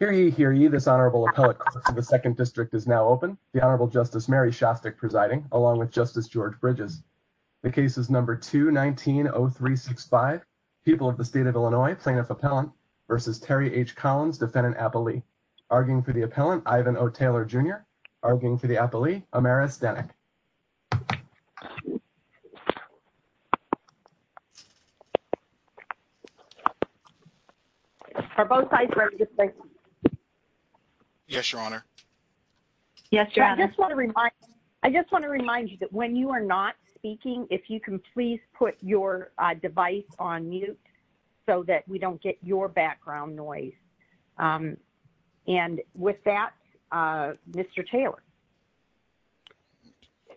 v. Terry H. Collins, Defendant Appellee. Arguing for the Appellant, Ivan O. Taylor Jr. Arguing for the Appellee, Amaris Denik. Are both sides ready to speak? Yes, Your Honor. I just want to remind you that when you are not speaking, if you can please put your device on mute so that we don't get your background noise. And with that, Mr. Taylor.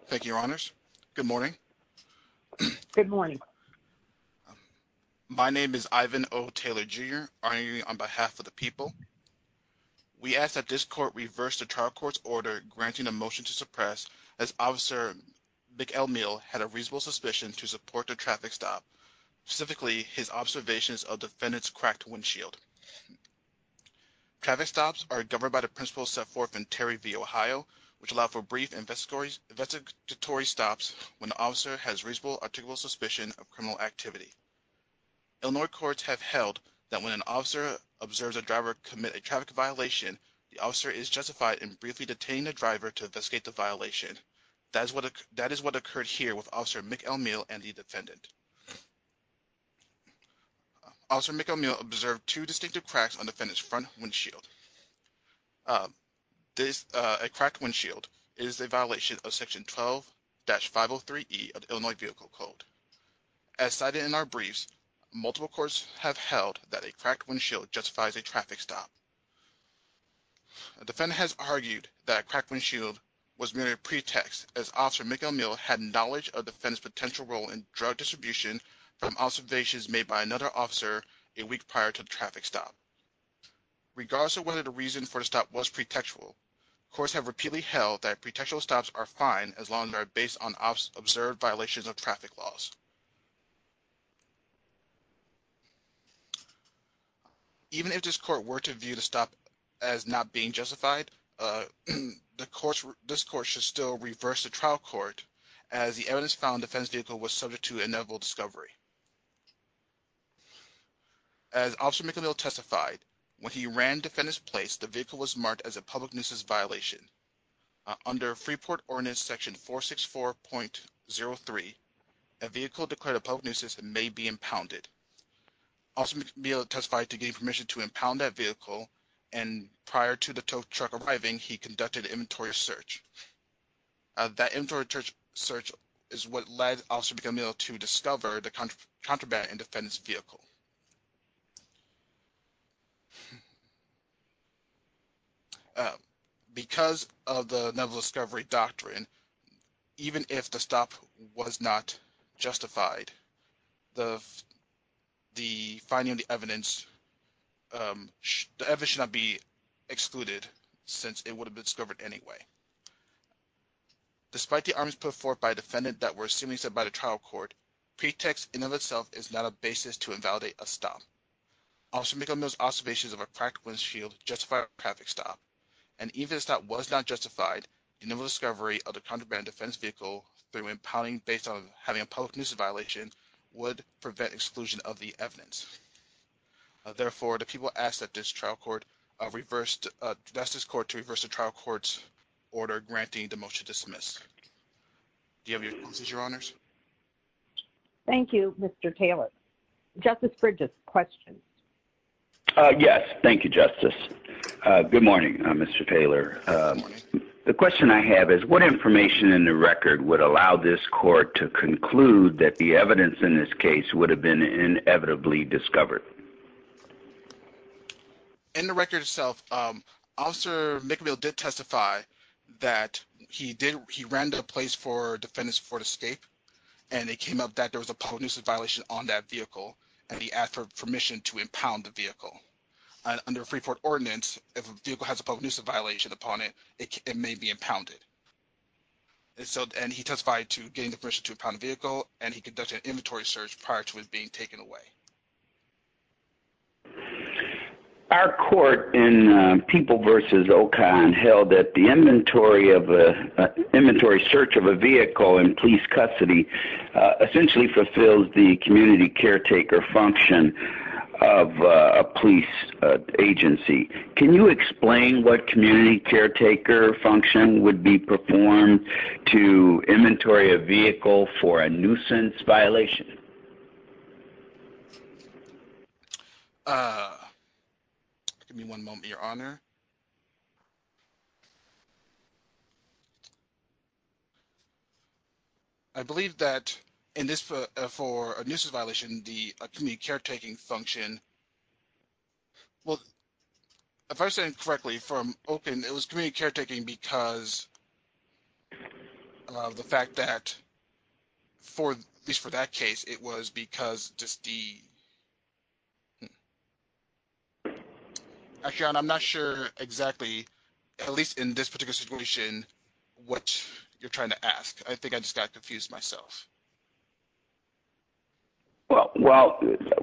Thank you, Your Honors. Good morning. Good morning. My name is Ivan O. Taylor Jr. arguing on behalf of the people. We ask that this court reverse the trial court's order granting a motion to suppress as Officer McElmeel had a reasonable suspicion to support the traffic stop. Specifically, his observations of Defendant's cracked windshield. Traffic stops are governed by the principles set forth in Terry v. Ohio, which allow for brief investigatory stops when the officer has reasonable, articulable suspicion of criminal activity. Illinois courts have held that when an officer observes a driver commit a traffic violation, the officer is justified in briefly detaining the driver to investigate the violation. That is what occurred here with Officer McElmeel and the Defendant. Officer McElmeel observed two distinctive cracks on Defendant's front windshield. A cracked windshield is a violation of Section 12-503E of the Illinois Vehicle Code. As cited in our briefs, multiple courts have held that a cracked windshield justifies a traffic stop. Defendant has argued that a cracked windshield was merely a pretext as Officer McElmeel had knowledge of Defendant's potential role in drug distribution from observations made by another officer a week prior to the traffic stop. Regardless of whether the reason for the stop was pretextual, courts have repeatedly held that pretextual stops are fine as long as they are based on observed violations of traffic laws. Even if this court were to view the stop as not being justified, this court should still reverse the trial court as the evidence found Defendant's vehicle was subject to inevitable discovery. As Officer McElmeel testified, when he ran Defendant's place, the vehicle was marked as a public nuisance violation. Under Freeport Ordinance Section 464.03, a vehicle declared a public nuisance may be impounded. Officer McElmeel testified to getting permission to impound that vehicle and prior to the tow truck arriving, he conducted an inventory search. That inventory search is what led Officer McElmeel to discover the contraband in Defendant's vehicle. Because of the inevitable discovery doctrine, even if the stop was not justified, the evidence should not be excluded since it would have been discovered anyway. Despite the arguments put forth by Defendant that were seemingly set by the trial court, pretext in and of itself is not a basis to invalidate a stop. Officer McElmeel's observations of a cracked windshield justify a traffic stop, and even if the stop was not justified, the inevitable discovery of the contraband in Defendant's vehicle through impounding based on having a public nuisance violation would prevent exclusion of the evidence. Therefore, the people ask that this trial court reverse the trial court's order granting the motion to dismiss. Do you have your responses, Your Honors? Thank you, Mr. Taylor. Justice Bridges, question. Yes, thank you, Justice. Good morning, Mr. Taylor. Good morning. The question I have is, what information in the record would allow this court to conclude that the evidence in this case would have been inevitably discovered? In the record itself, Officer McElmeel did testify that he ran to a place for Defendant's Ford Escape, and it came up that there was a public nuisance violation on that vehicle, and he asked for permission to impound the vehicle. Under a free port ordinance, if a vehicle has a violation upon it, it may be impounded. He testified to getting the permission to impound the vehicle, and he conducted an inventory search prior to it being taken away. Our court in People v. Ocon held that the inventory search of a vehicle in police custody essentially fulfills the community caretaker function of a police agency. Can you explain what community caretaker function would be performed to inventory a vehicle for a nuisance violation? Give me one moment, Your Honor. I believe that for a nuisance violation, the community caretaking function would be performed. Well, if I understand it correctly, from Ocon, it was community caretaking because of the fact that, at least for that case, it was because just the... Actually, Your Honor, I'm not sure exactly, at least in this particular situation, what you're trying to ask. I think I just got confused myself. Well,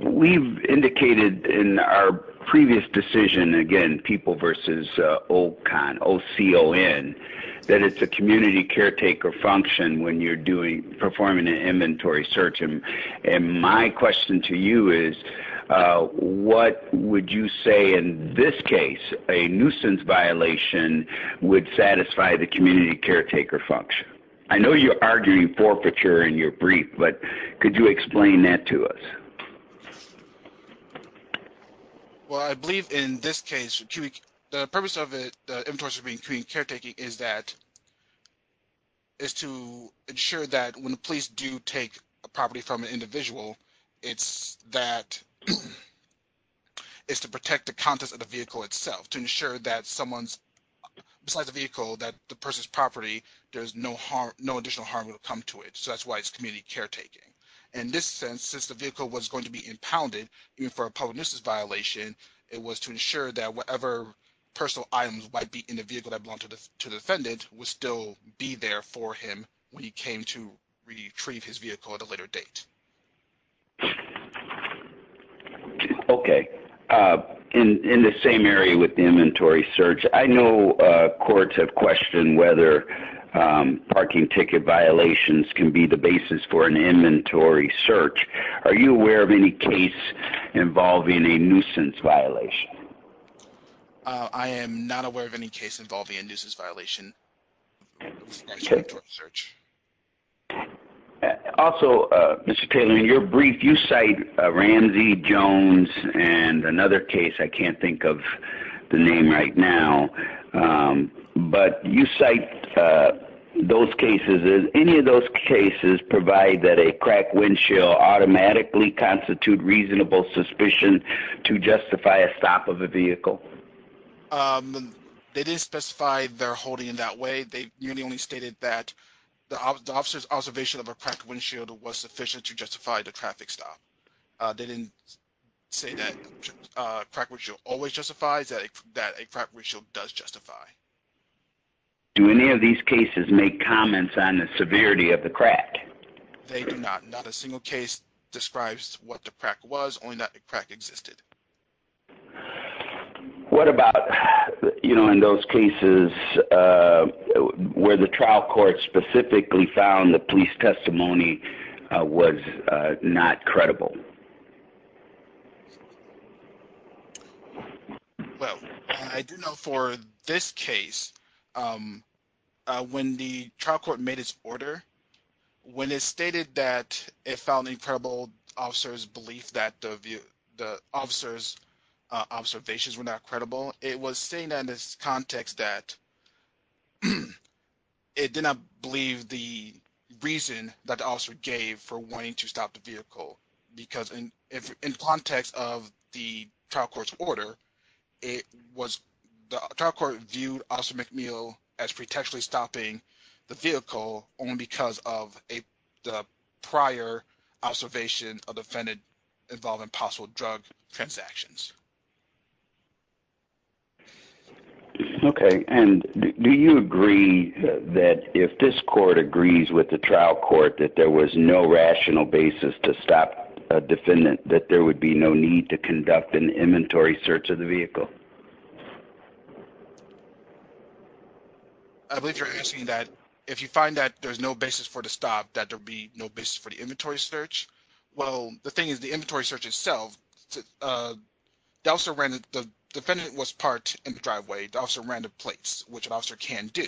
we've indicated in our previous decision, again, People v. Ocon, O-C-O-N, that it's a community caretaker function when you're performing an inventory search. My question to you is, what would you say, in this case, a nuisance violation would satisfy the community caretaker function? I know you're arguing for procuring your vehicle, but could you explain that to us? Well, I believe, in this case, the purpose of the inventory is to ensure that when the police do take a property from an individual, it's to protect the contents of the vehicle itself, to ensure that besides the vehicle, that the person's property, there's no additional harm will come to it. So that's why it's community caretaking. In this sense, since the vehicle was going to be impounded, even for a public nuisance violation, it was to ensure that whatever personal items might be in the vehicle that belonged to the defendant would still be there for him when he came to retrieve his vehicle at a later date. Okay. In the same area with the inventory search, I know courts have questioned whether parking ticket violations can be the basis for an inventory search. Are you aware of any case involving a nuisance violation? I am not aware of any case involving a nuisance violation. Also, Mr. Taylor, in your brief, you cite Ramsey, Jones, and another case, I can't think of the name right now, but you cite those cases. Any of those cases provide that a cracked windshield automatically constitutes reasonable suspicion to justify a stop of a vehicle? They didn't specify their holding in that way. They merely stated that the officer's observation of a cracked windshield was sufficient to justify the traffic stop. They didn't say that a cracked windshield always justifies, that a cracked windshield does justify. Do any of these cases make comments on the severity of the crack? They do not. Not a single case describes what the crack was, only that the crack existed. What about, you know, in those cases where the trial court specifically found the police testimony was not credible? Well, I do know for this case, when the trial court made its order, when it stated that it found the credible officer's belief that the officer's observations were not credible, it was saying that in this context that it did not believe the reason that the officer gave for wanting to stop the vehicle. Because in context of the trial court's order, the trial court viewed Officer McNeil as pretentiously stopping the vehicle only because of the prior observation of the defendant involving possible drug transactions. Okay, and do you agree that if this court agrees with the trial court that there was no rational basis to stop a defendant, that there would be no need to conduct an inventory search of the vehicle? I believe you're asking that if you find that there's no basis for the stop, that there'd be no basis for the inventory search. Well, the thing is, the inventory search itself, the officer ran it, the defendant was parked in the driveway, the officer ran the plates, which an officer can do,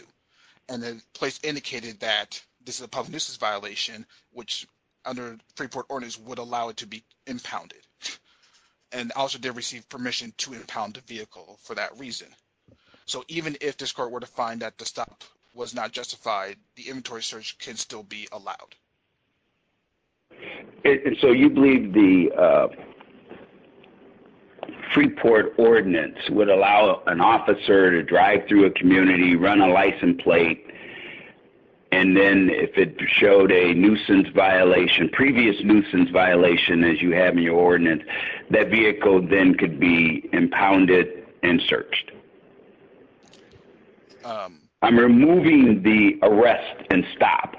and the plates indicated that this is a public nuisance violation, which under Freeport ordinance would allow it to be impounded. And the officer did receive permission to impound the vehicle for that reason. So even if this court were to find that the stop was not justified, the inventory search can still be allowed. So you believe the ordinance would allow an officer to drive through a community, run a license plate, and then if it showed a nuisance violation, previous nuisance violation as you have in your ordinance, that vehicle then could be impounded and searched. I'm removing the arrest and stop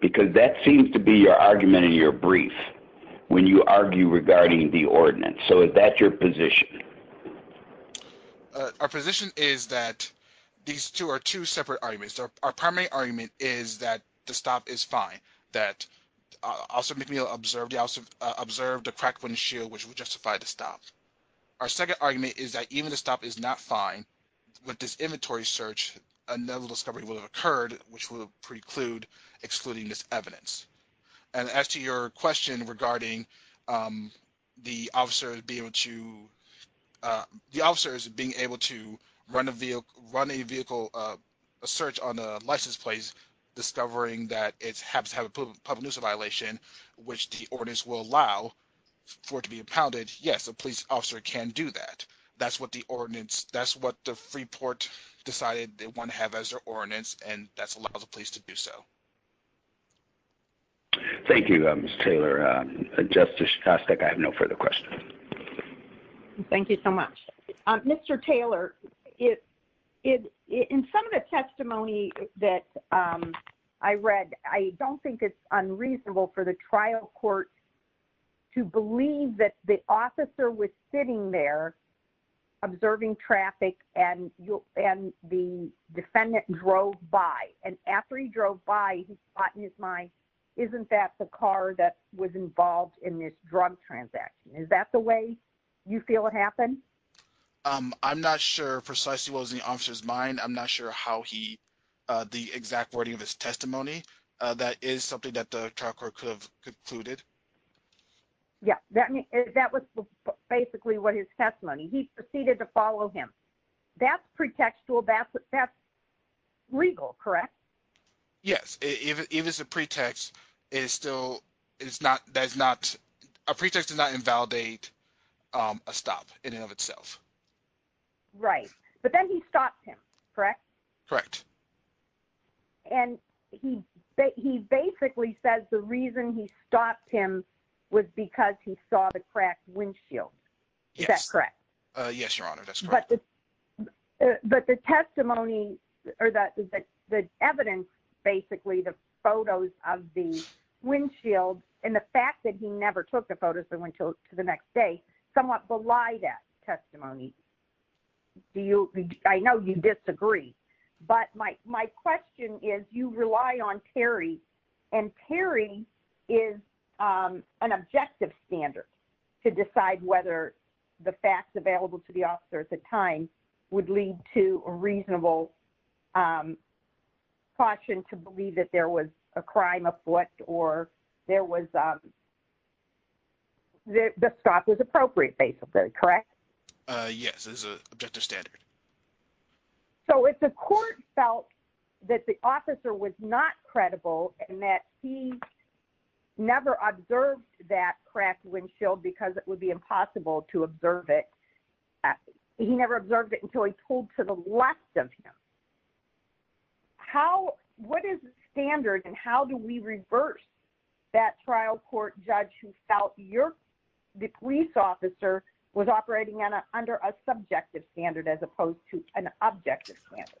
because that seems to be your argument in your brief when you argue regarding the ordinance. So is that your position? Our position is that these two are two separate arguments. Our primary argument is that the stop is fine, that Officer McNeil observed the crack wouldn't shield, which would justify the stop. Our second argument is that even if the stop is not fine, with this inventory search, another discovery will have occurred, which will preclude excluding this evidence. And as to your question regarding the officers being able to run a vehicle, a search on a license plate, discovering that it happens to have a public nuisance violation, which the ordinance will allow for it to be impounded, yes, a police officer can do that. That's what the ordinance, that's what the Freeport decided they want to have as their ordinance, and that's allowed the police to do so. Thank you, Mr. Taylor. Justice Sostek, I have no further questions. Thank you so much. Mr. Taylor, in some of the testimony that I read, I don't think it's unreasonable for the trial court to believe that the officer was sitting there observing traffic and the defendant drove by. And after he drove by, he thought in his mind, isn't that the car that was involved in this drug transaction? Is that the way you feel it happened? I'm not sure precisely what was in the officer's mind. I'm not sure how he, the exact wording of his testimony, that is something that the trial court could have concluded. Yeah, that was basically what his testimony. He proceeded to follow him. That's pretextual, that's legal, correct? Yes. Even if it's a pretext, it still is not, that is not, a pretext does not invalidate a stop in and of itself. Right. But then he stopped him, correct? Correct. And he basically says the reason he stopped him was because he saw the cracked windshield. Yes. Is that correct? Yes, Your Honor, that's correct. But the testimony, or the evidence, basically, the photos of the windshield and the fact that he never took the photos and went to the next day somewhat belie that testimony. I know you disagree, but my question is, you rely on Perry, and Perry is an objective standard to decide whether the facts available to the officer at the time would lead to a reasonable caution to believe that there was a crime afoot or there was, the stop was appropriate, basically, correct? Yes, it's an objective standard. Okay. So if the court felt that the officer was not credible and that he never observed that cracked windshield because it would be impossible to observe it, he never observed it until he told to the left of him, what is the standard and how do we reverse that trial court judge who felt the police officer was operating under a subjective standard as opposed to an objective standard?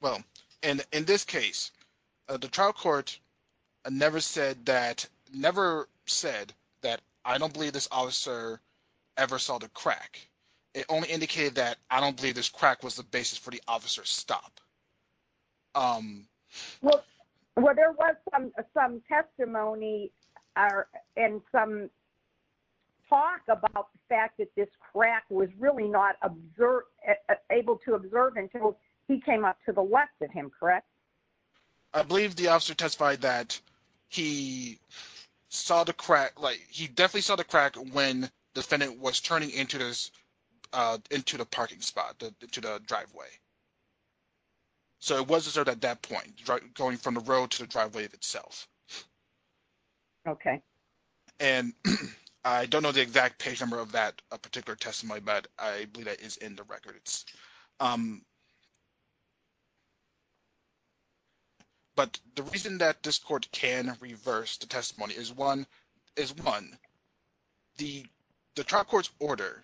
Well, in this case, the trial court never said that, never said that I don't believe this officer ever saw the crack. It only indicated that I don't believe this crack was the basis for the officer's talk about the fact that this crack was really not able to observe until he came up to the left of him, correct? I believe the officer testified that he saw the crack, like, he definitely saw the crack when defendant was turning into the parking spot, to the driveway. So it was observed at that point, going from the road to the driveway itself. Okay. And I don't know the exact page number of that particular testimony, but I believe that is in the records. But the reason that this court can reverse the testimony is one, the trial court's order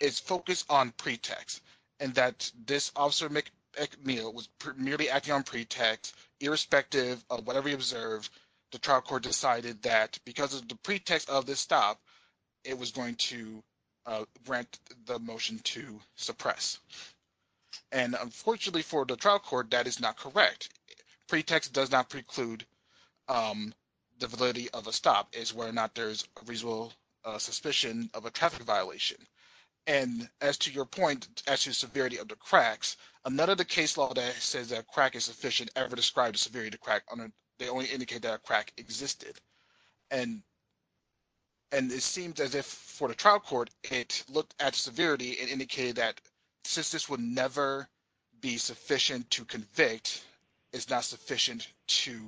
is focused on pretext and that this officer McNeil was merely acting on pretext, irrespective of whatever he observed, the trial court decided that because of the pretext of this stop, it was going to grant the motion to suppress. And unfortunately for the trial court, that is not correct. Pretext does not preclude the validity of a stop is whether or not there's a reasonable suspicion of a traffic violation. And as to your point, as to the severity of the cracks, none of the case law that says a crack is sufficient ever described a severity of a crack. They only indicate that a crack existed. And it seems as if for the trial court, it looked at severity and indicated that since this would never be sufficient to convict, it's not sufficient to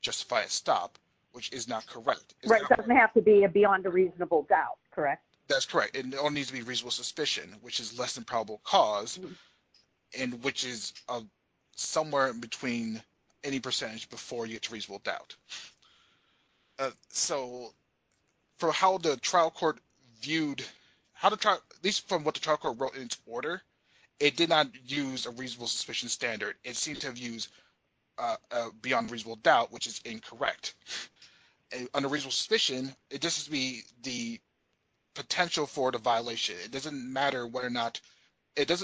justify a stop, which is not correct. It doesn't have to be a beyond a reasonable doubt, correct? That's correct. It only needs to be reasonable suspicion, which is less than probable cause, and which is somewhere in between any percentage before you get to reasonable doubt. So for how the trial court viewed, at least from what the trial court wrote in its order, it did not use a reasonable suspicion standard. It seemed to have used a beyond reasonable doubt, which is incorrect. Under reasonable suspicion, it just has to be the potential for the violation. It doesn't matter whether or not the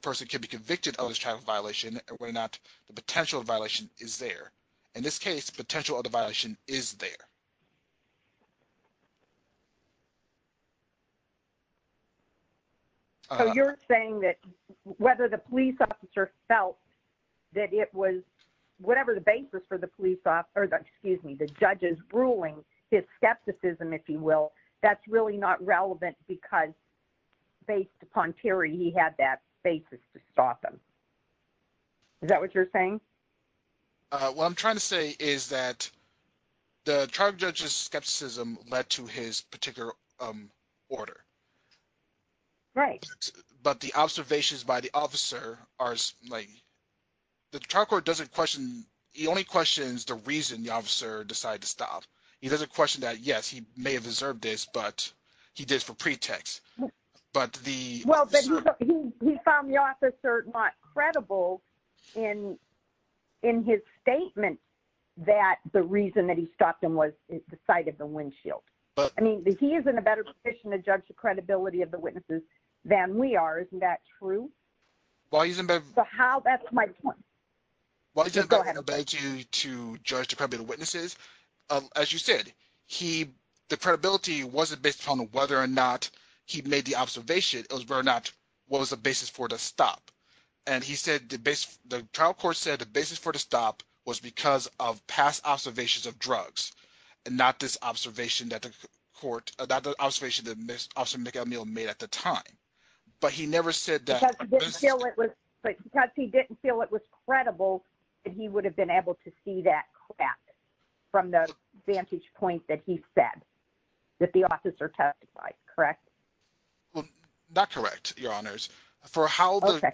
person can be convicted of this traffic violation, or whether or not the potential violation is there. In this case, the potential of the violation is there. So you're saying that whether the police officer felt that it was whatever the basis for the judge's ruling, his skepticism, if you will, that's really not relevant because based upon Terry, he had that basis to stop him. Is that what you're saying? What I'm trying to say is that the trial judge's skepticism led to his particular order. Right. But the observations by the officer are, like, the trial court doesn't question the only question is the reason the officer decided to stop. He doesn't question that, yes, he may have deserved this, but he did it for pretext. But the... Well, but he found the officer not credible in his statement that the reason that he stopped him was the sight of the windshield. I mean, he is in a better position to judge the credibility of the witnesses than we are. Isn't that true? Well, he's in a better position to judge the credibility of the witnesses. As you said, the credibility wasn't based upon whether or not he made the observation. It was whether or not it was a basis for the stop. And he said the trial court said the basis for the stop was because of past observations of drugs and not this observation that the court, not the observation that Mr. McAmel made at the time. But he never said that... But because he didn't feel it was credible, he would have been able to see that from the vantage point that he said that the officer testified, correct? Well, not correct, Your Honors. For how the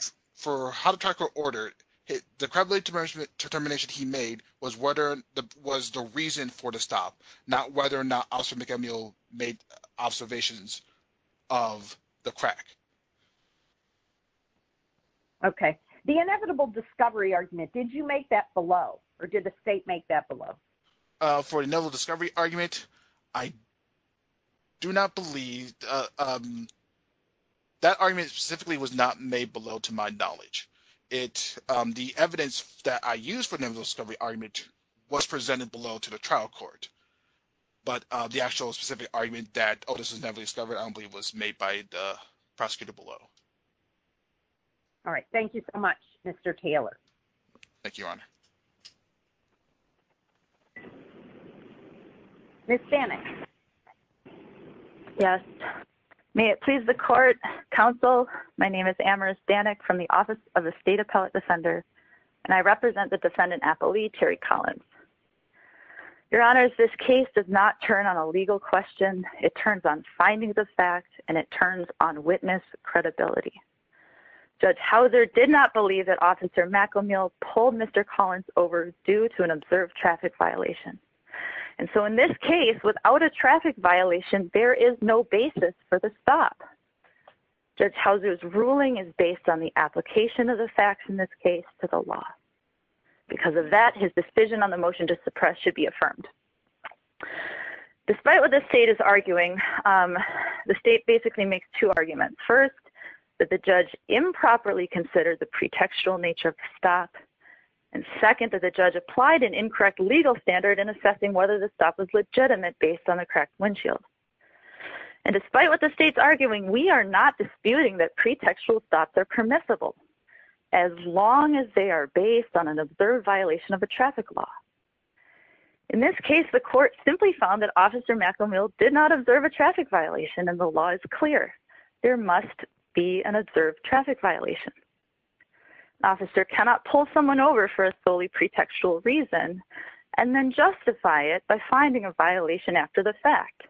trial court ordered, the credibility determination he made was the reason for the stop, not whether or not Officer McAmel made observations of the crack. Okay. The inevitable discovery argument, did you make that below or did the state make that below? For the inevitable discovery argument, I do not believe... That argument specifically was not made below to my knowledge. The evidence that I used for the inevitable discovery argument was presented below to the trial court. But the actual specific argument that, oh, this is an inevitable discovery, I don't believe was made by the prosecutor below. All right. Thank you so much, Mr. Taylor. Thank you, Your Honor. Ms. Danek. Yes. May it please the court, counsel, my name is Amaris Danek from the Office of the State Appellate Defender, and I represent the defendant appellee, Terry Collins. Your Honors, this case does not turn on a legal question. It turns on findings of fact, and it turns on witness credibility. Judge Hauser did not believe that Officer McAmel pulled Mr. Collins over due to an observed traffic violation. And so in this case, without a traffic violation, there is no basis for the stop. Judge Hauser's ruling is based on the application of the facts in this case to the law. Because of that, his decision on the motion to suppress should be affirmed. Despite what the state is arguing, the state basically makes two arguments. First, that the judge improperly considered the pretextual nature of the stop. And second, that the judge applied an incorrect legal standard in assessing whether the stop was legitimate based on the correct windshield. And despite what the state's arguing, we are not disputing that pretextual stops are permissible, as long as they are based on an observed violation of a traffic law. In this case, the court simply found that Officer McAmel did not observe a traffic violation and the law is clear. There must be an observed traffic violation. An officer cannot pull someone over for a solely pretextual reason and then justify it by finding a violation after the fact.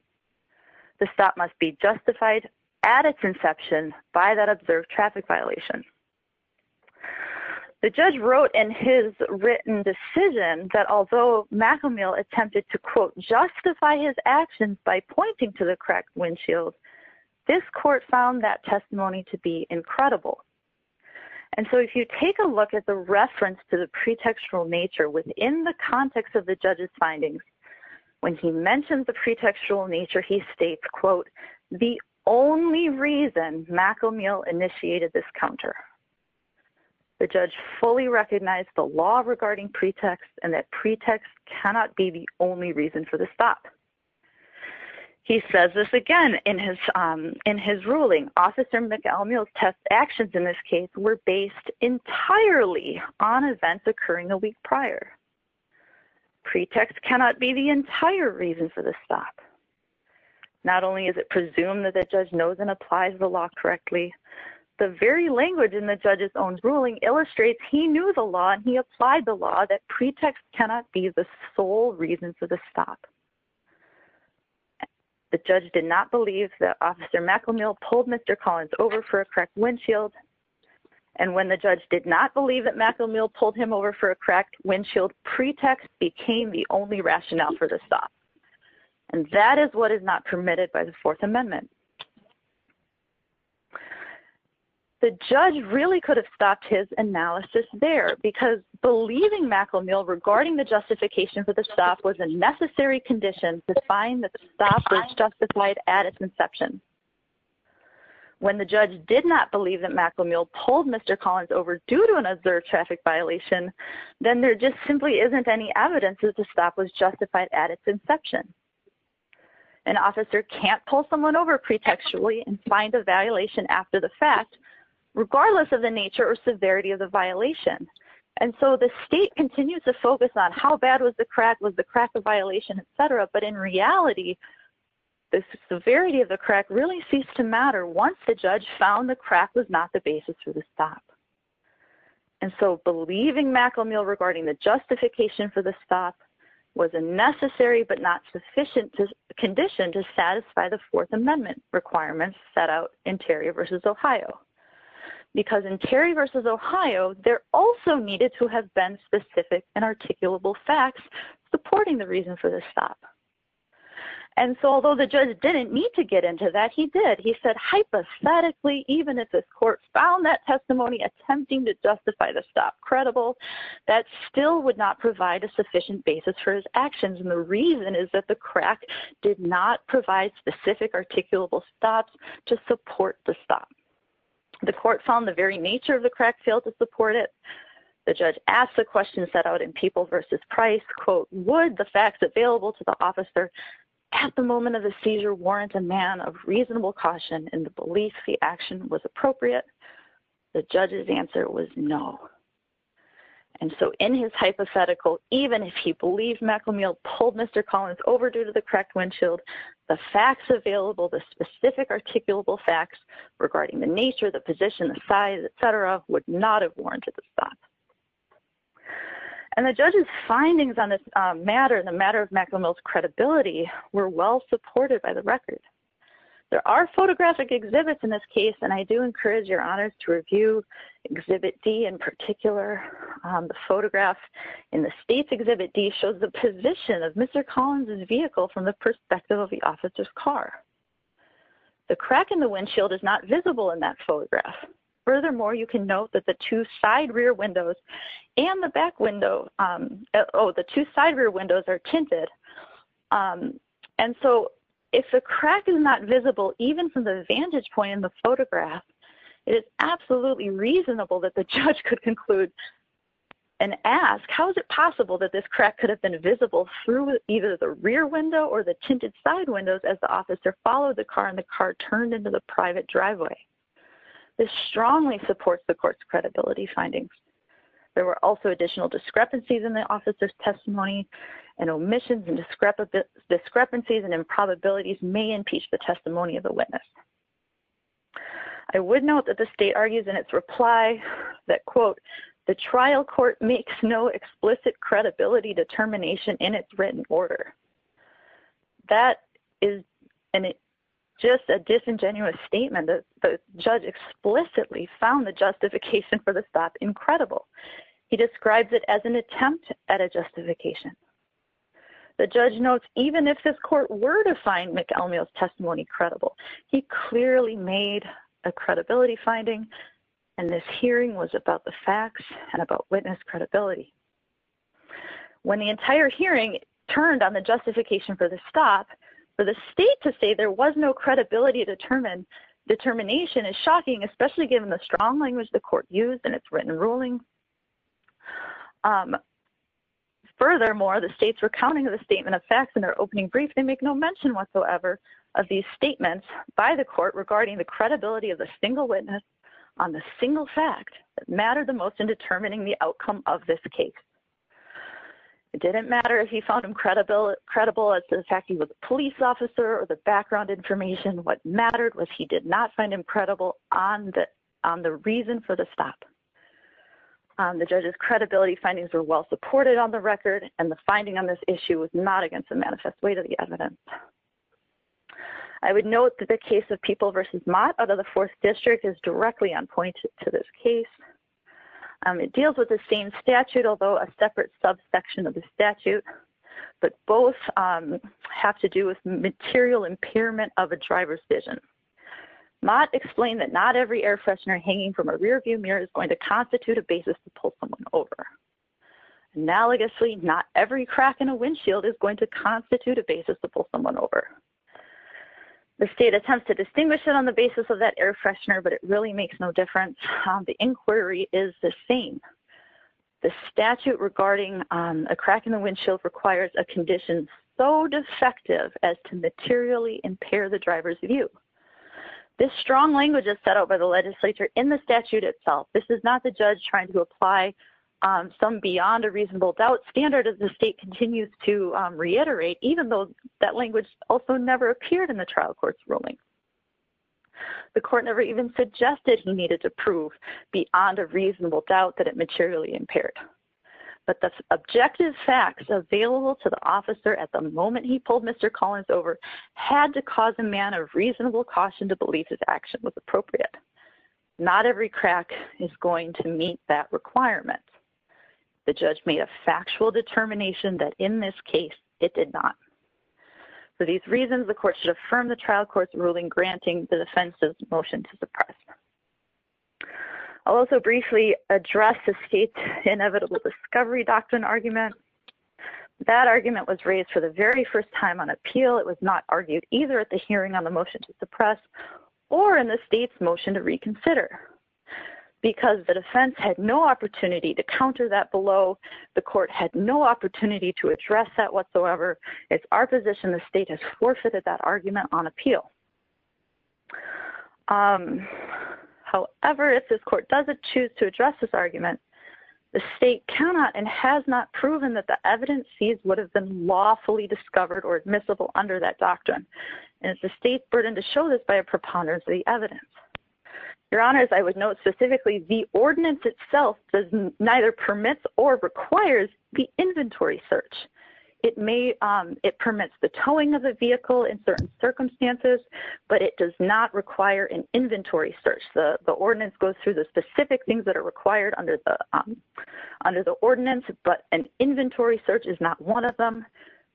The stop must be justified at its inception by that observed traffic violation. The judge wrote in his written decision that although McAmel attempted to, quote, pointing to the correct windshield, this court found that testimony to be incredible. And so if you take a look at the reference to the pretextual nature within the context of the judge's findings, when he mentioned the pretextual nature, he states, quote, the only reason McAmel initiated this counter. The judge fully recognized the law regarding pretext and that pretext cannot be the only reason for the stop. He says this again in his ruling. Officer McAmel's test actions in this case were based entirely on events occurring a week prior. Pretext cannot be the entire reason for the stop. Not only is it presumed that the judge knows and applies the law correctly, the very language in the judge's own ruling illustrates he knew the law that pretext cannot be the sole reason for the stop. The judge did not believe that Officer McAmel pulled Mr. Collins over for a correct windshield. And when the judge did not believe that McAmel pulled him over for a correct windshield, pretext became the only rationale for the stop. And that is what is not permitted by the Fourth Amendment. The judge really could have stopped his analysis there, because believing McAmel regarding the justification for the stop was a necessary condition to find that the stop was justified at its inception. When the judge did not believe that McAmel pulled Mr. Collins over due to an observed traffic violation, then there just simply isn't any evidence that the stop was justified at its inception. An officer can't pull someone over pretextually and find a violation after the fact, regardless of the nature or severity of the violation. And so the state continues to focus on how bad was the crack, was the crack a violation, et cetera. But in reality, the severity of the crack really ceased to matter once the judge found the crack was not the basis for the stop. And so believing McAmel regarding the justification for the stop was a necessary but not sufficient condition to satisfy the Fourth Amendment requirements set out in Terry v. Ohio. Because in Terry v. Ohio, there also needed to have been specific and articulable facts supporting the reason for the stop. And so although the judge didn't need to get into that, he did. He said, hypothetically, even if the court found that testimony attempting to justify the stop credible, that still would not provide a sufficient basis for his actions. And the reason is that the support the stop. The court found the very nature of the crack failed to support it. The judge asked the question set out in Papal v. Price, quote, would the facts available to the officer at the moment of the seizure warrant a man of reasonable caution in the belief the action was appropriate? The judge's answer was no. And so in his hypothetical, even if he believed McAmel pulled Mr. Collins over due to the cracked windshield, the facts available, the specific articulable facts regarding the nature, the position, the size, et cetera, would not have warranted the stop. And the judge's findings on this matter, the matter of McAmel's credibility, were well supported by the record. There are photographic exhibits in this case, and I do encourage your honors to review Exhibit D in particular. The photograph in the state's Exhibit D shows the position of Mr. Collins's vehicle from the perspective of the officer's car. The crack in the windshield is not visible in that photograph. Furthermore, you can note that the two side rear windows and the back window, oh, the two side rear windows are tinted. And so if the crack is not visible, even from the vantage point in the photograph, it is absolutely reasonable that the judge could conclude and ask, how is it possible that this crack could have been visible through either the rear window or the tinted side windows as the officer followed the car and the car turned into the private driveway? This strongly supports the court's credibility findings. There were also additional discrepancies in the officer's testimony and omissions and discrepancies and improbabilities may impeach the testimony of the witness. I would note that the state argues in its reply that, quote, the trial court makes no explicit credibility determination in its written order. That is just a disingenuous statement. The judge explicitly found the justification for the stop incredible. He describes it as an attempt at a justification. The judge notes, even if this court were to find McElmeel's testimony credible, he clearly made a credibility finding and this hearing was about the facts and about witness credibility. When the entire hearing turned on the justification for the stop, for the state to say there was no credibility determination is shocking, especially given the strong language the court used in its written ruling. Furthermore, the states were counting on their opening brief, they make no mention whatsoever of these statements by the court regarding the credibility of the single witness on the single fact that mattered the most in determining the outcome of this case. It didn't matter if he found him credible as to the fact he was a police officer or the background information. What mattered was he did not find him credible on the reason for the stop. The judge's credibility findings were well supported on the record and the finding on this issue was not against the manifest way to the evidence. I would note that the case of People v. Mott out of the fourth district is directly on point to this case. It deals with the same statute, although a separate subsection of the statute, but both have to do with material impairment of a driver's vision. Mott explained that not every air freshener hanging from a rearview mirror is going to not every crack in a windshield is going to constitute a basis to pull someone over. The state attempts to distinguish it on the basis of that air freshener, but it really makes no difference. The inquiry is the same. The statute regarding a crack in the windshield requires a condition so defective as to materially impair the driver's view. This strong language is set out by the legislature in the statute itself. This is not the judge trying to apply some beyond a reasonable doubt standard as the state continues to reiterate, even though that language also never appeared in the trial court's ruling. The court never even suggested he needed to prove beyond a reasonable doubt that it materially impaired, but the objective facts available to the officer at the moment he pulled Mr. Collins over had to cause a man of reasonable caution to believe his action was appropriate. Not every crack is going to meet that requirement. The judge made a factual determination that in this case it did not. For these reasons, the court should affirm the trial court's ruling, granting the defense's motion to suppress. I'll also briefly address the state's inevitable discovery doctrine argument. That argument was raised for the very first time on appeal. It was argued either at the hearing on the motion to suppress or in the state's motion to reconsider. Because the defense had no opportunity to counter that below, the court had no opportunity to address that whatsoever, it's our position the state has forfeited that argument on appeal. However, if this court doesn't choose to address this argument, the state cannot and has not proven that the evidence seized would have been lawfully discovered or admissible under that doctrine. And it's the state's burden to show this by a preponderance of the evidence. Your Honors, I would note specifically the ordinance itself neither permits or requires the inventory search. It permits the towing of the vehicle in certain circumstances, but it does not require an inventory search. The ordinance goes through the specific things that are required under the ordinance, but an inventory search is not one of them.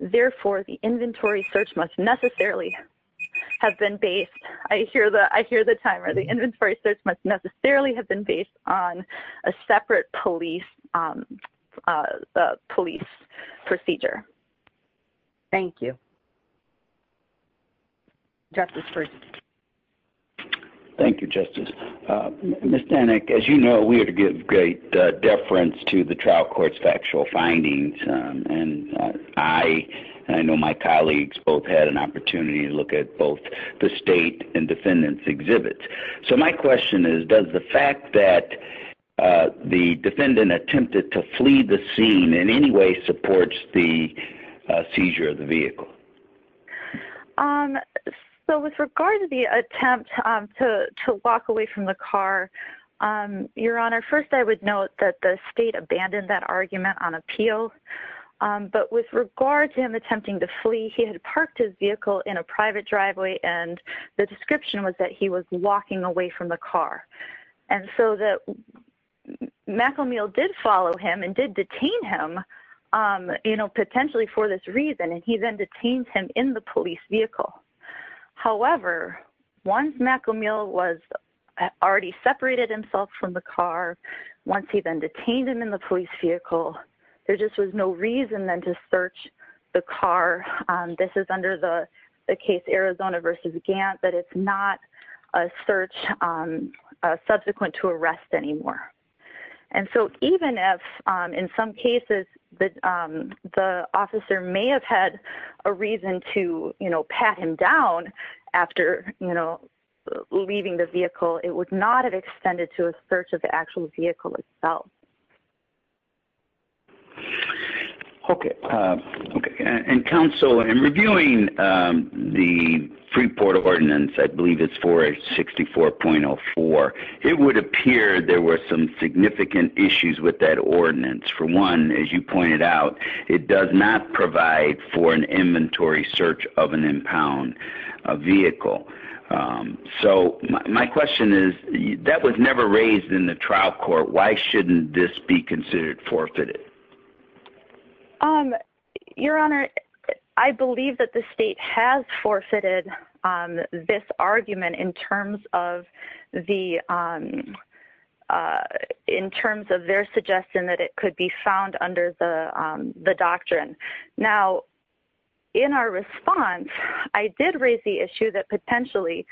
Therefore, the inventory search must necessarily have been based, I hear the timer, the inventory search must necessarily have been based on a separate police procedure. Thank you. Justice Ferguson. Thank you, Justice. Ms. Danek, as you know, we are to give great deference to the trial court's factual findings. And I know my colleagues both had an opportunity to look at both the state and defendants' exhibits. So my question is, does the fact that the defendant attempted to flee the scene in any way supports the argument? So with regard to the attempt to walk away from the car, Your Honor, first, I would note that the state abandoned that argument on appeal. But with regard to him attempting to flee, he had parked his vehicle in a private driveway, and the description was that he was walking away from the car. And so that McElmeel did follow him and did detain him, you know, potentially for this reason, and he then detained him in the police vehicle. However, once McElmeel was already separated himself from the car, once he then detained him in the police vehicle, there just was no reason then to search the car. This is under the case Arizona versus Gantt, but it's not a search subsequent to arrest anymore. And so even if in some cases the officer may have had a reason to, you know, pat him down after, you know, leaving the vehicle, it would not have extended to a search of the actual vehicle itself. Okay. Okay. And counsel, in reviewing the free port of ordinance, I believe it's 464.04, it would appear there were some significant issues with that ordinance. For one, as you pointed out, it does not provide for an inventory search of an impound vehicle. So my question is, that was never raised in the trial court. Why shouldn't this be considered forfeited? Your Honor, I believe that the state has forfeited this argument in terms of their suggestion that it could be found under the doctrine. Now, in our response, I did raise the issue that potentially,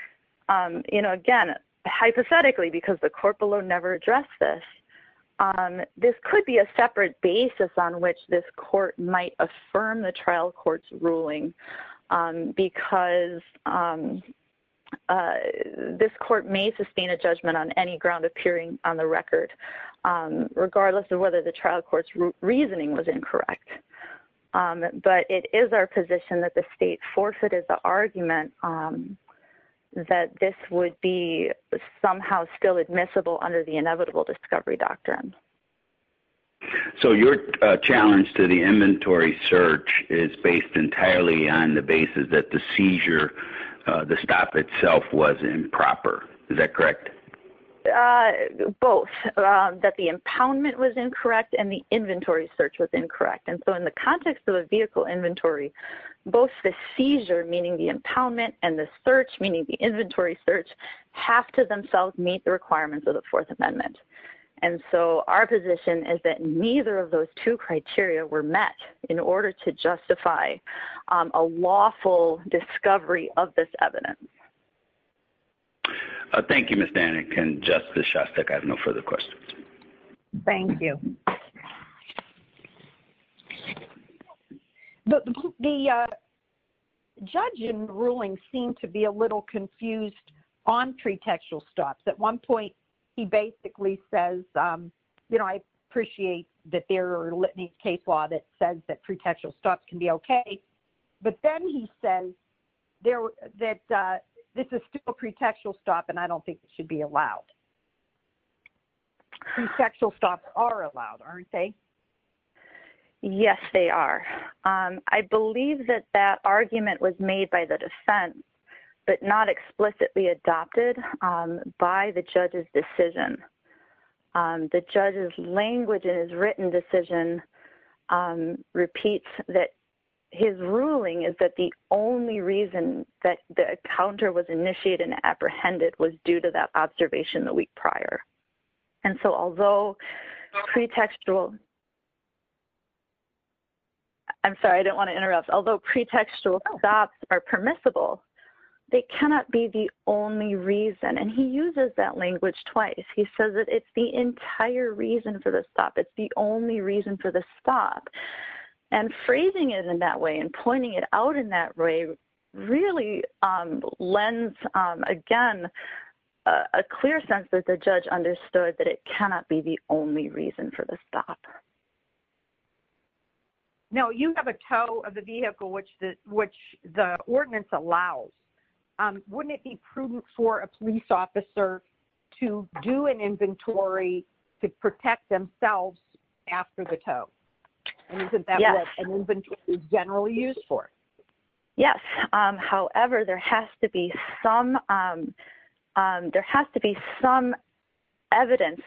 you know, again, hypothetically, because the court below never addressed this, this could be a separate basis on which this court might affirm the trial court's ruling. Because this court may sustain a judgment on any ground appearing on the record, regardless of whether the trial court's reasoning was incorrect. But it is our position that the state forfeited the argument that this would be somehow still admissible under the inevitable discovery doctrine. So your challenge to the inventory search is based entirely on the basis that the seizure, the stop itself was improper. Is that correct? Both, that the impoundment was incorrect and the inventory search was incorrect. And so in the context of a vehicle inventory, both the seizure, meaning the impoundment, and the search, meaning the inventory search, have to themselves meet the requirements of the Fourth Amendment. And so our position is that neither of those two criteria were met in order to justify a lawful discovery of this evidence. Thank you, Ms. Danik. And Justice Shostak, I have no further questions. Thank you. The judge in the ruling seemed to be a little confused on pretextual stops. At one point, he basically says, you know, I appreciate that there are litany of case law that says that pretextual stops can be okay. But then he said that this is still a pretextual stop and I don't think it should be allowed. Pretextual stops are allowed, aren't they? Yes, they are. I believe that that argument was made by the defense, but not explicitly adopted by the judge's decision. The judge's language in his written decision repeats that his ruling is that the only reason that the counter was initiated and apprehended was due to that observation the week prior. And so although pretextual, I'm sorry, I don't want to interrupt. Although pretextual stops are permissible, they cannot be the only reason. And he uses that language twice. He says that it's the entire reason for the stop. It's the only reason for the stop. And phrasing it in that way and pointing it out in that way really lends, again, a clear sense that the judge understood that it cannot be the only reason for the stop. No, you have a tow of the vehicle which the ordinance allows. Wouldn't it be prudent for a police officer to do an inventory to protect themselves after the tow? And isn't that what an inventory is generally used for? Yes. However, there has to be some evidence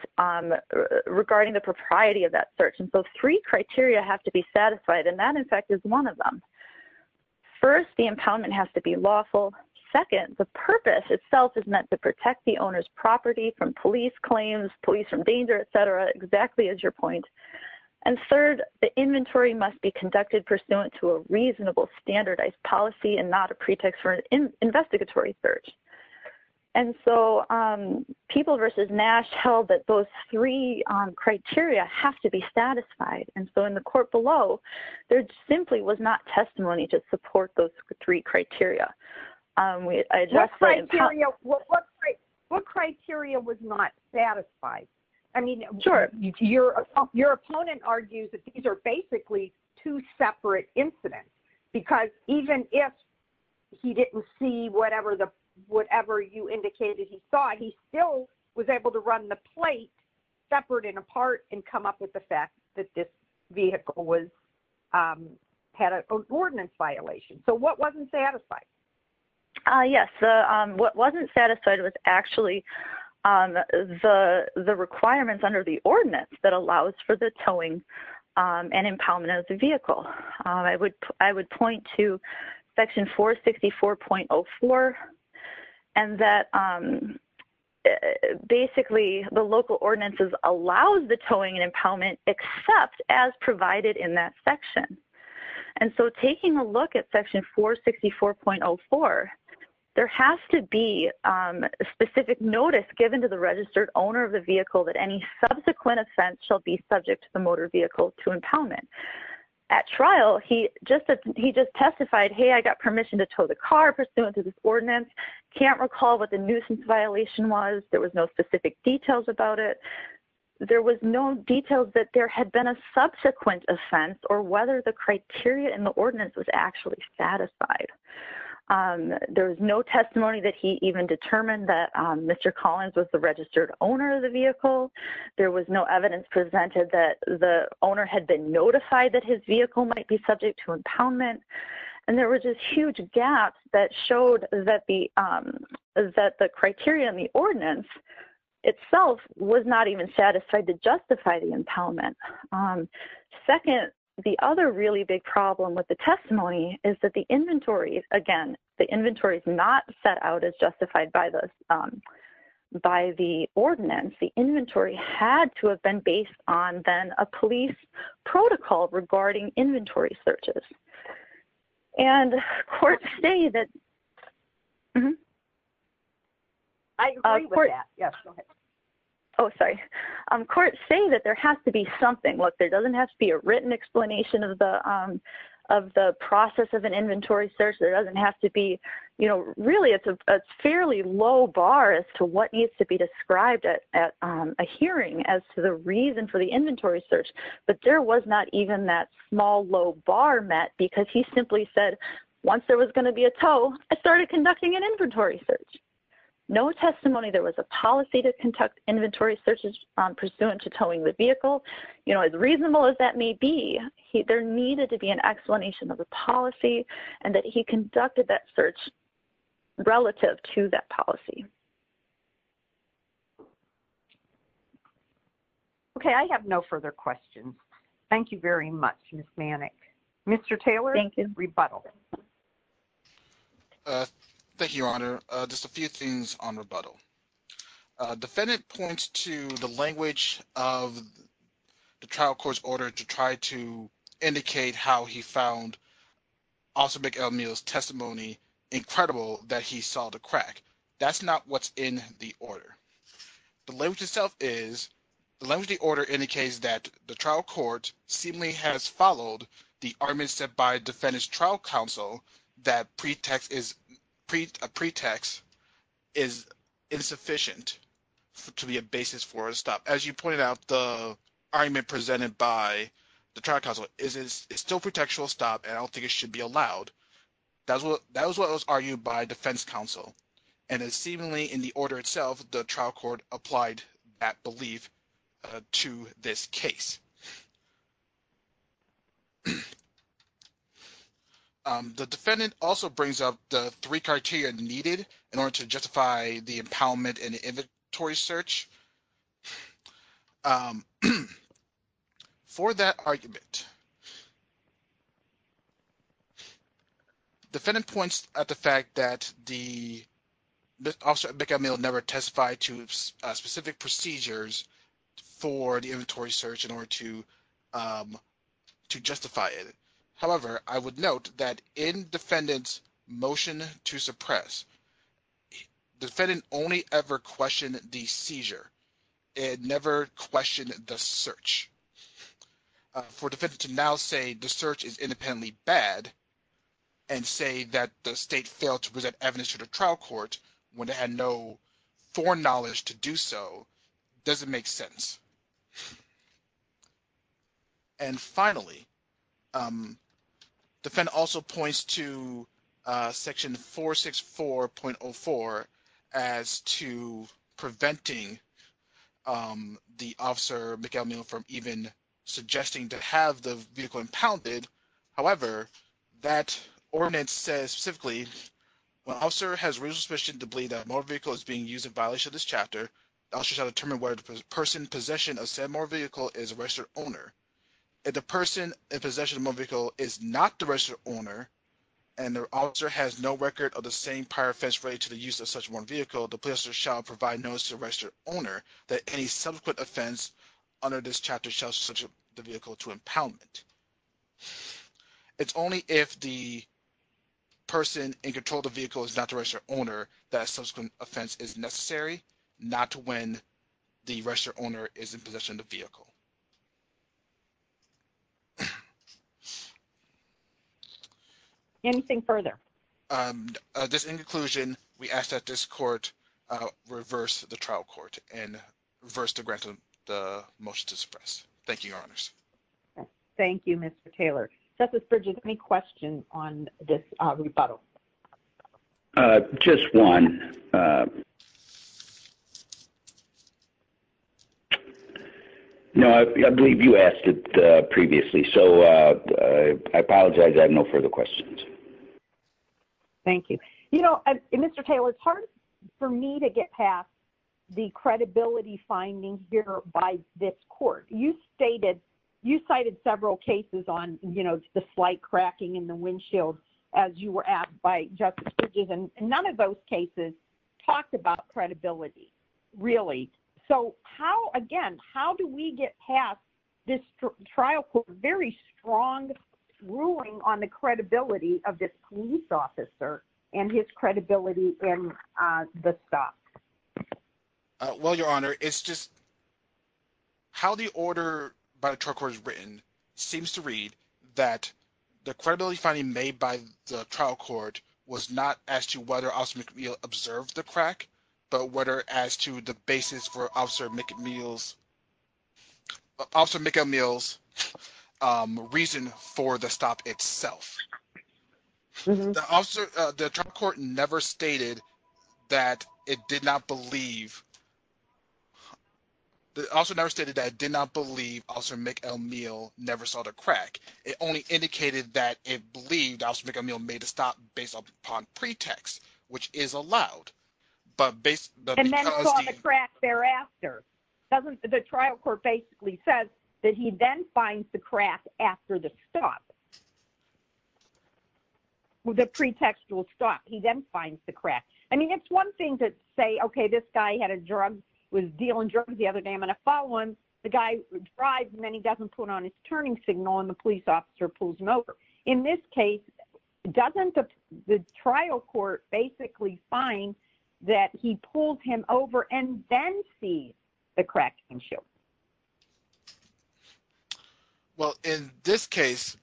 regarding the propriety of that search. And so three criteria have to be satisfied, and that, in fact, is one of them. First, the impoundment has to be lawful. Second, the purpose itself is meant to protect the owner's property from police claims, police from danger, et cetera, exactly as your point. And third, the inventory must be conducted pursuant to a reasonable standardized policy and not a pretext for an investigatory search. And so People v. Nash held that those three criteria have to be satisfied. And so in the court below, there simply was not testimony to support those three criteria. What criteria was not satisfied? I mean, your opponent argues that these are basically two separate incidents, because even if he didn't see whatever you indicated he saw, he still was able to run the plate separate and apart and come up with the fact that this vehicle had an ordinance violation. So wasn't satisfied? Yes. What wasn't satisfied was actually the requirements under the ordinance that allows for the towing and impoundment of the vehicle. I would point to Section 464.04, and that basically the local ordinances allows the towing and impoundment except as provided in that section. And so taking a look at Section 464.04, there has to be a specific notice given to the registered owner of the vehicle that any subsequent offense shall be subject to the motor vehicle to impoundment. At trial, he just testified, hey, I got permission to tow the car pursuant to this ordinance. Can't recall what the nuisance violation was. There was no specific details about it. There was no details that there had been a subsequent offense or whether the criteria in the ordinance was actually satisfied. There was no testimony that he even determined that Mr. Collins was the registered owner of the vehicle. There was no evidence presented that the owner had been notified that his vehicle might be subject to impoundment. And there were just huge gaps that showed that the criteria in the ordinance itself was not even satisfied to justify the impoundment. Second, the other really big problem with the testimony is that the inventory, again, the inventory is not set out as justified by the ordinance. The inventory had to have been based on a police protocol regarding inventory searches. And courts say that there has to be something. There doesn't have to be a written explanation of the process of an inventory search. There doesn't have to be really a fairly low bar as to what needs to be searched. But there was not even that small, low bar met because he simply said, once there was going to be a tow, I started conducting an inventory search. No testimony there was a policy to conduct inventory searches pursuant to towing the vehicle. You know, as reasonable as that may be, there needed to be an explanation of the policy and that he conducted that search relative to that policy. Okay. I have no further questions. Thank you very much, Ms. Manick. Mr. Taylor. Thank you. Rebuttal. Thank you, Your Honor. Just a few things on rebuttal. Defendant points to the language of the trial court's order to try to indicate how he found Officer McElmeel's testimony incredible that he saw the crack. That's not what's in the order. The language itself is, the language of the order indicates that the trial court seemingly has followed the argument set by Defendant's trial counsel that a pretext is insufficient to be a basis for a stop. As you pointed out, the argument presented by the trial counsel is it's still a pretextual stop and I that's what that was what was argued by defense counsel and it's seemingly in the order itself the trial court applied that belief to this case. The defendant also brings up the three criteria needed in order to justify the impoundment and inventory search for that argument. Defendant points at the fact that the Officer McElmeel never testified to specific procedures for the inventory search in order to to justify it. However, I would note that in Defendant's motion to suppress, Defendant only ever questioned the seizure and never questioned the search. For Defendant to now say the search is independently bad and say that the state failed to present evidence to the trial court when they had no foreknowledge to do so doesn't make sense. And finally, Defendant also points to section 464.04 as to preventing the Officer McElmeel from even suggesting to have the vehicle impounded. However, that ordinance says specifically, when Officer has reason to believe that a motor vehicle is being used in violation of this chapter, the Officer shall determine whether the person in possession of said motor vehicle is a registered owner. If the person in possession of a motor vehicle is not the registered owner and the Officer has no record of the same prior offense related to the use of one vehicle, the Officer shall provide notice to the registered owner that any subsequent offense under this chapter shall subject the vehicle to impoundment. It's only if the person in control of the vehicle is not the registered owner that a subsequent offense is necessary, not when the registered owner is in possession of the vehicle. Anything further? Just in conclusion, we ask that this court reverse the trial court and reverse the grant of the motion to suppress. Thank you, Your Honors. Thank you, Mr. Taylor. Justice Bridges, any questions on this rebuttal? Just one. No, I believe you asked it previously, so I apologize. I have no further questions. Thank you. You know, Mr. Taylor, it's hard for me to get past the credibility finding here by this court. You cited several cases on, you know, the slight cracking in the windshield as you were asked by Justice Bridges, and none of those cases talked about credibility, really. So how, again, how do we get past this trial court's very strong ruling on the credibility of this police officer and his credibility in the stock? Well, Your Honor, it's just how the order by the trial court is written seems to read that the credibility finding made by the trial court was not as to whether Officer McNeil observed the crack, but whether as to the basis for Officer McNeil's reason for the stop itself. The trial court never stated that it did not believe Officer McNeil never saw the crack. It only indicated that it believed Officer McNeil made a stop based upon pretext, which is allowed. And then he saw the crack thereafter. The trial court basically says that he then finds the crack after the stop. The pretextual stop, he then finds the crack. I mean, it's one thing to say, okay, this guy was dealing drugs the other day. I'm going to file one. The guy drives, and then he doesn't put on his turning signal, and the police officer pulls him over. In this case, doesn't the trial court basically find that he pulled him over and then see the crack and show? Well, in this case...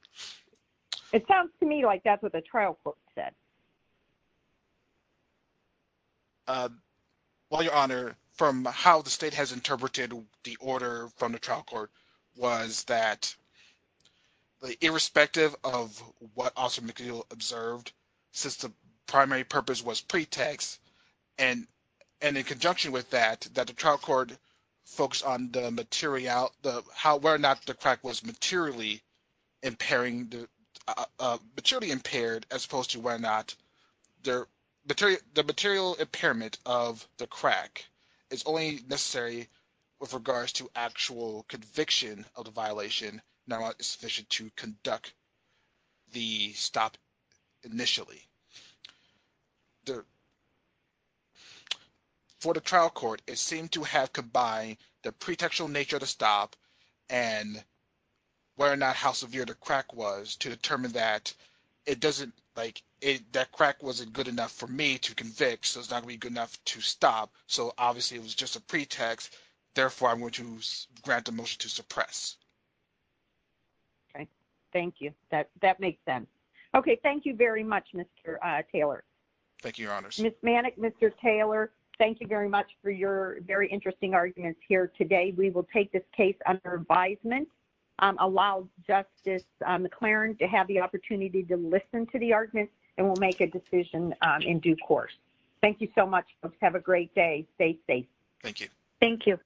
It sounds to me like that's what the trial court said. Well, Your Honor, from how the state has interpreted the order from the trial court was that irrespective of what Officer McNeil observed, since the primary purpose was pretext, and in conjunction with that, that the trial court focused on whether or not the crack was there, the material impairment of the crack is only necessary with regards to actual conviction of the violation, not sufficient to conduct the stop initially. For the trial court, it seemed to have combined the pretextual nature of the stop and whether or not how severe the crack was to determine that it doesn't, like, that crack wasn't good enough for me to convict, so it's not going to be good enough to stop. So obviously, it was just a pretext. Therefore, I want to grant the motion to suppress. Okay. Thank you. That makes sense. Okay. Thank you very much, Mr. Taylor. Thank you, Your Honors. Ms. Manick, Mr. Taylor, thank you very much for your very interesting arguments here today. We will take this case under advisement, allow Justice McLaren to have the opportunity to listen to the arguments, and we'll make a decision in due course. Thank you so much. Have a great day. Stay safe. Thank you. Thank you.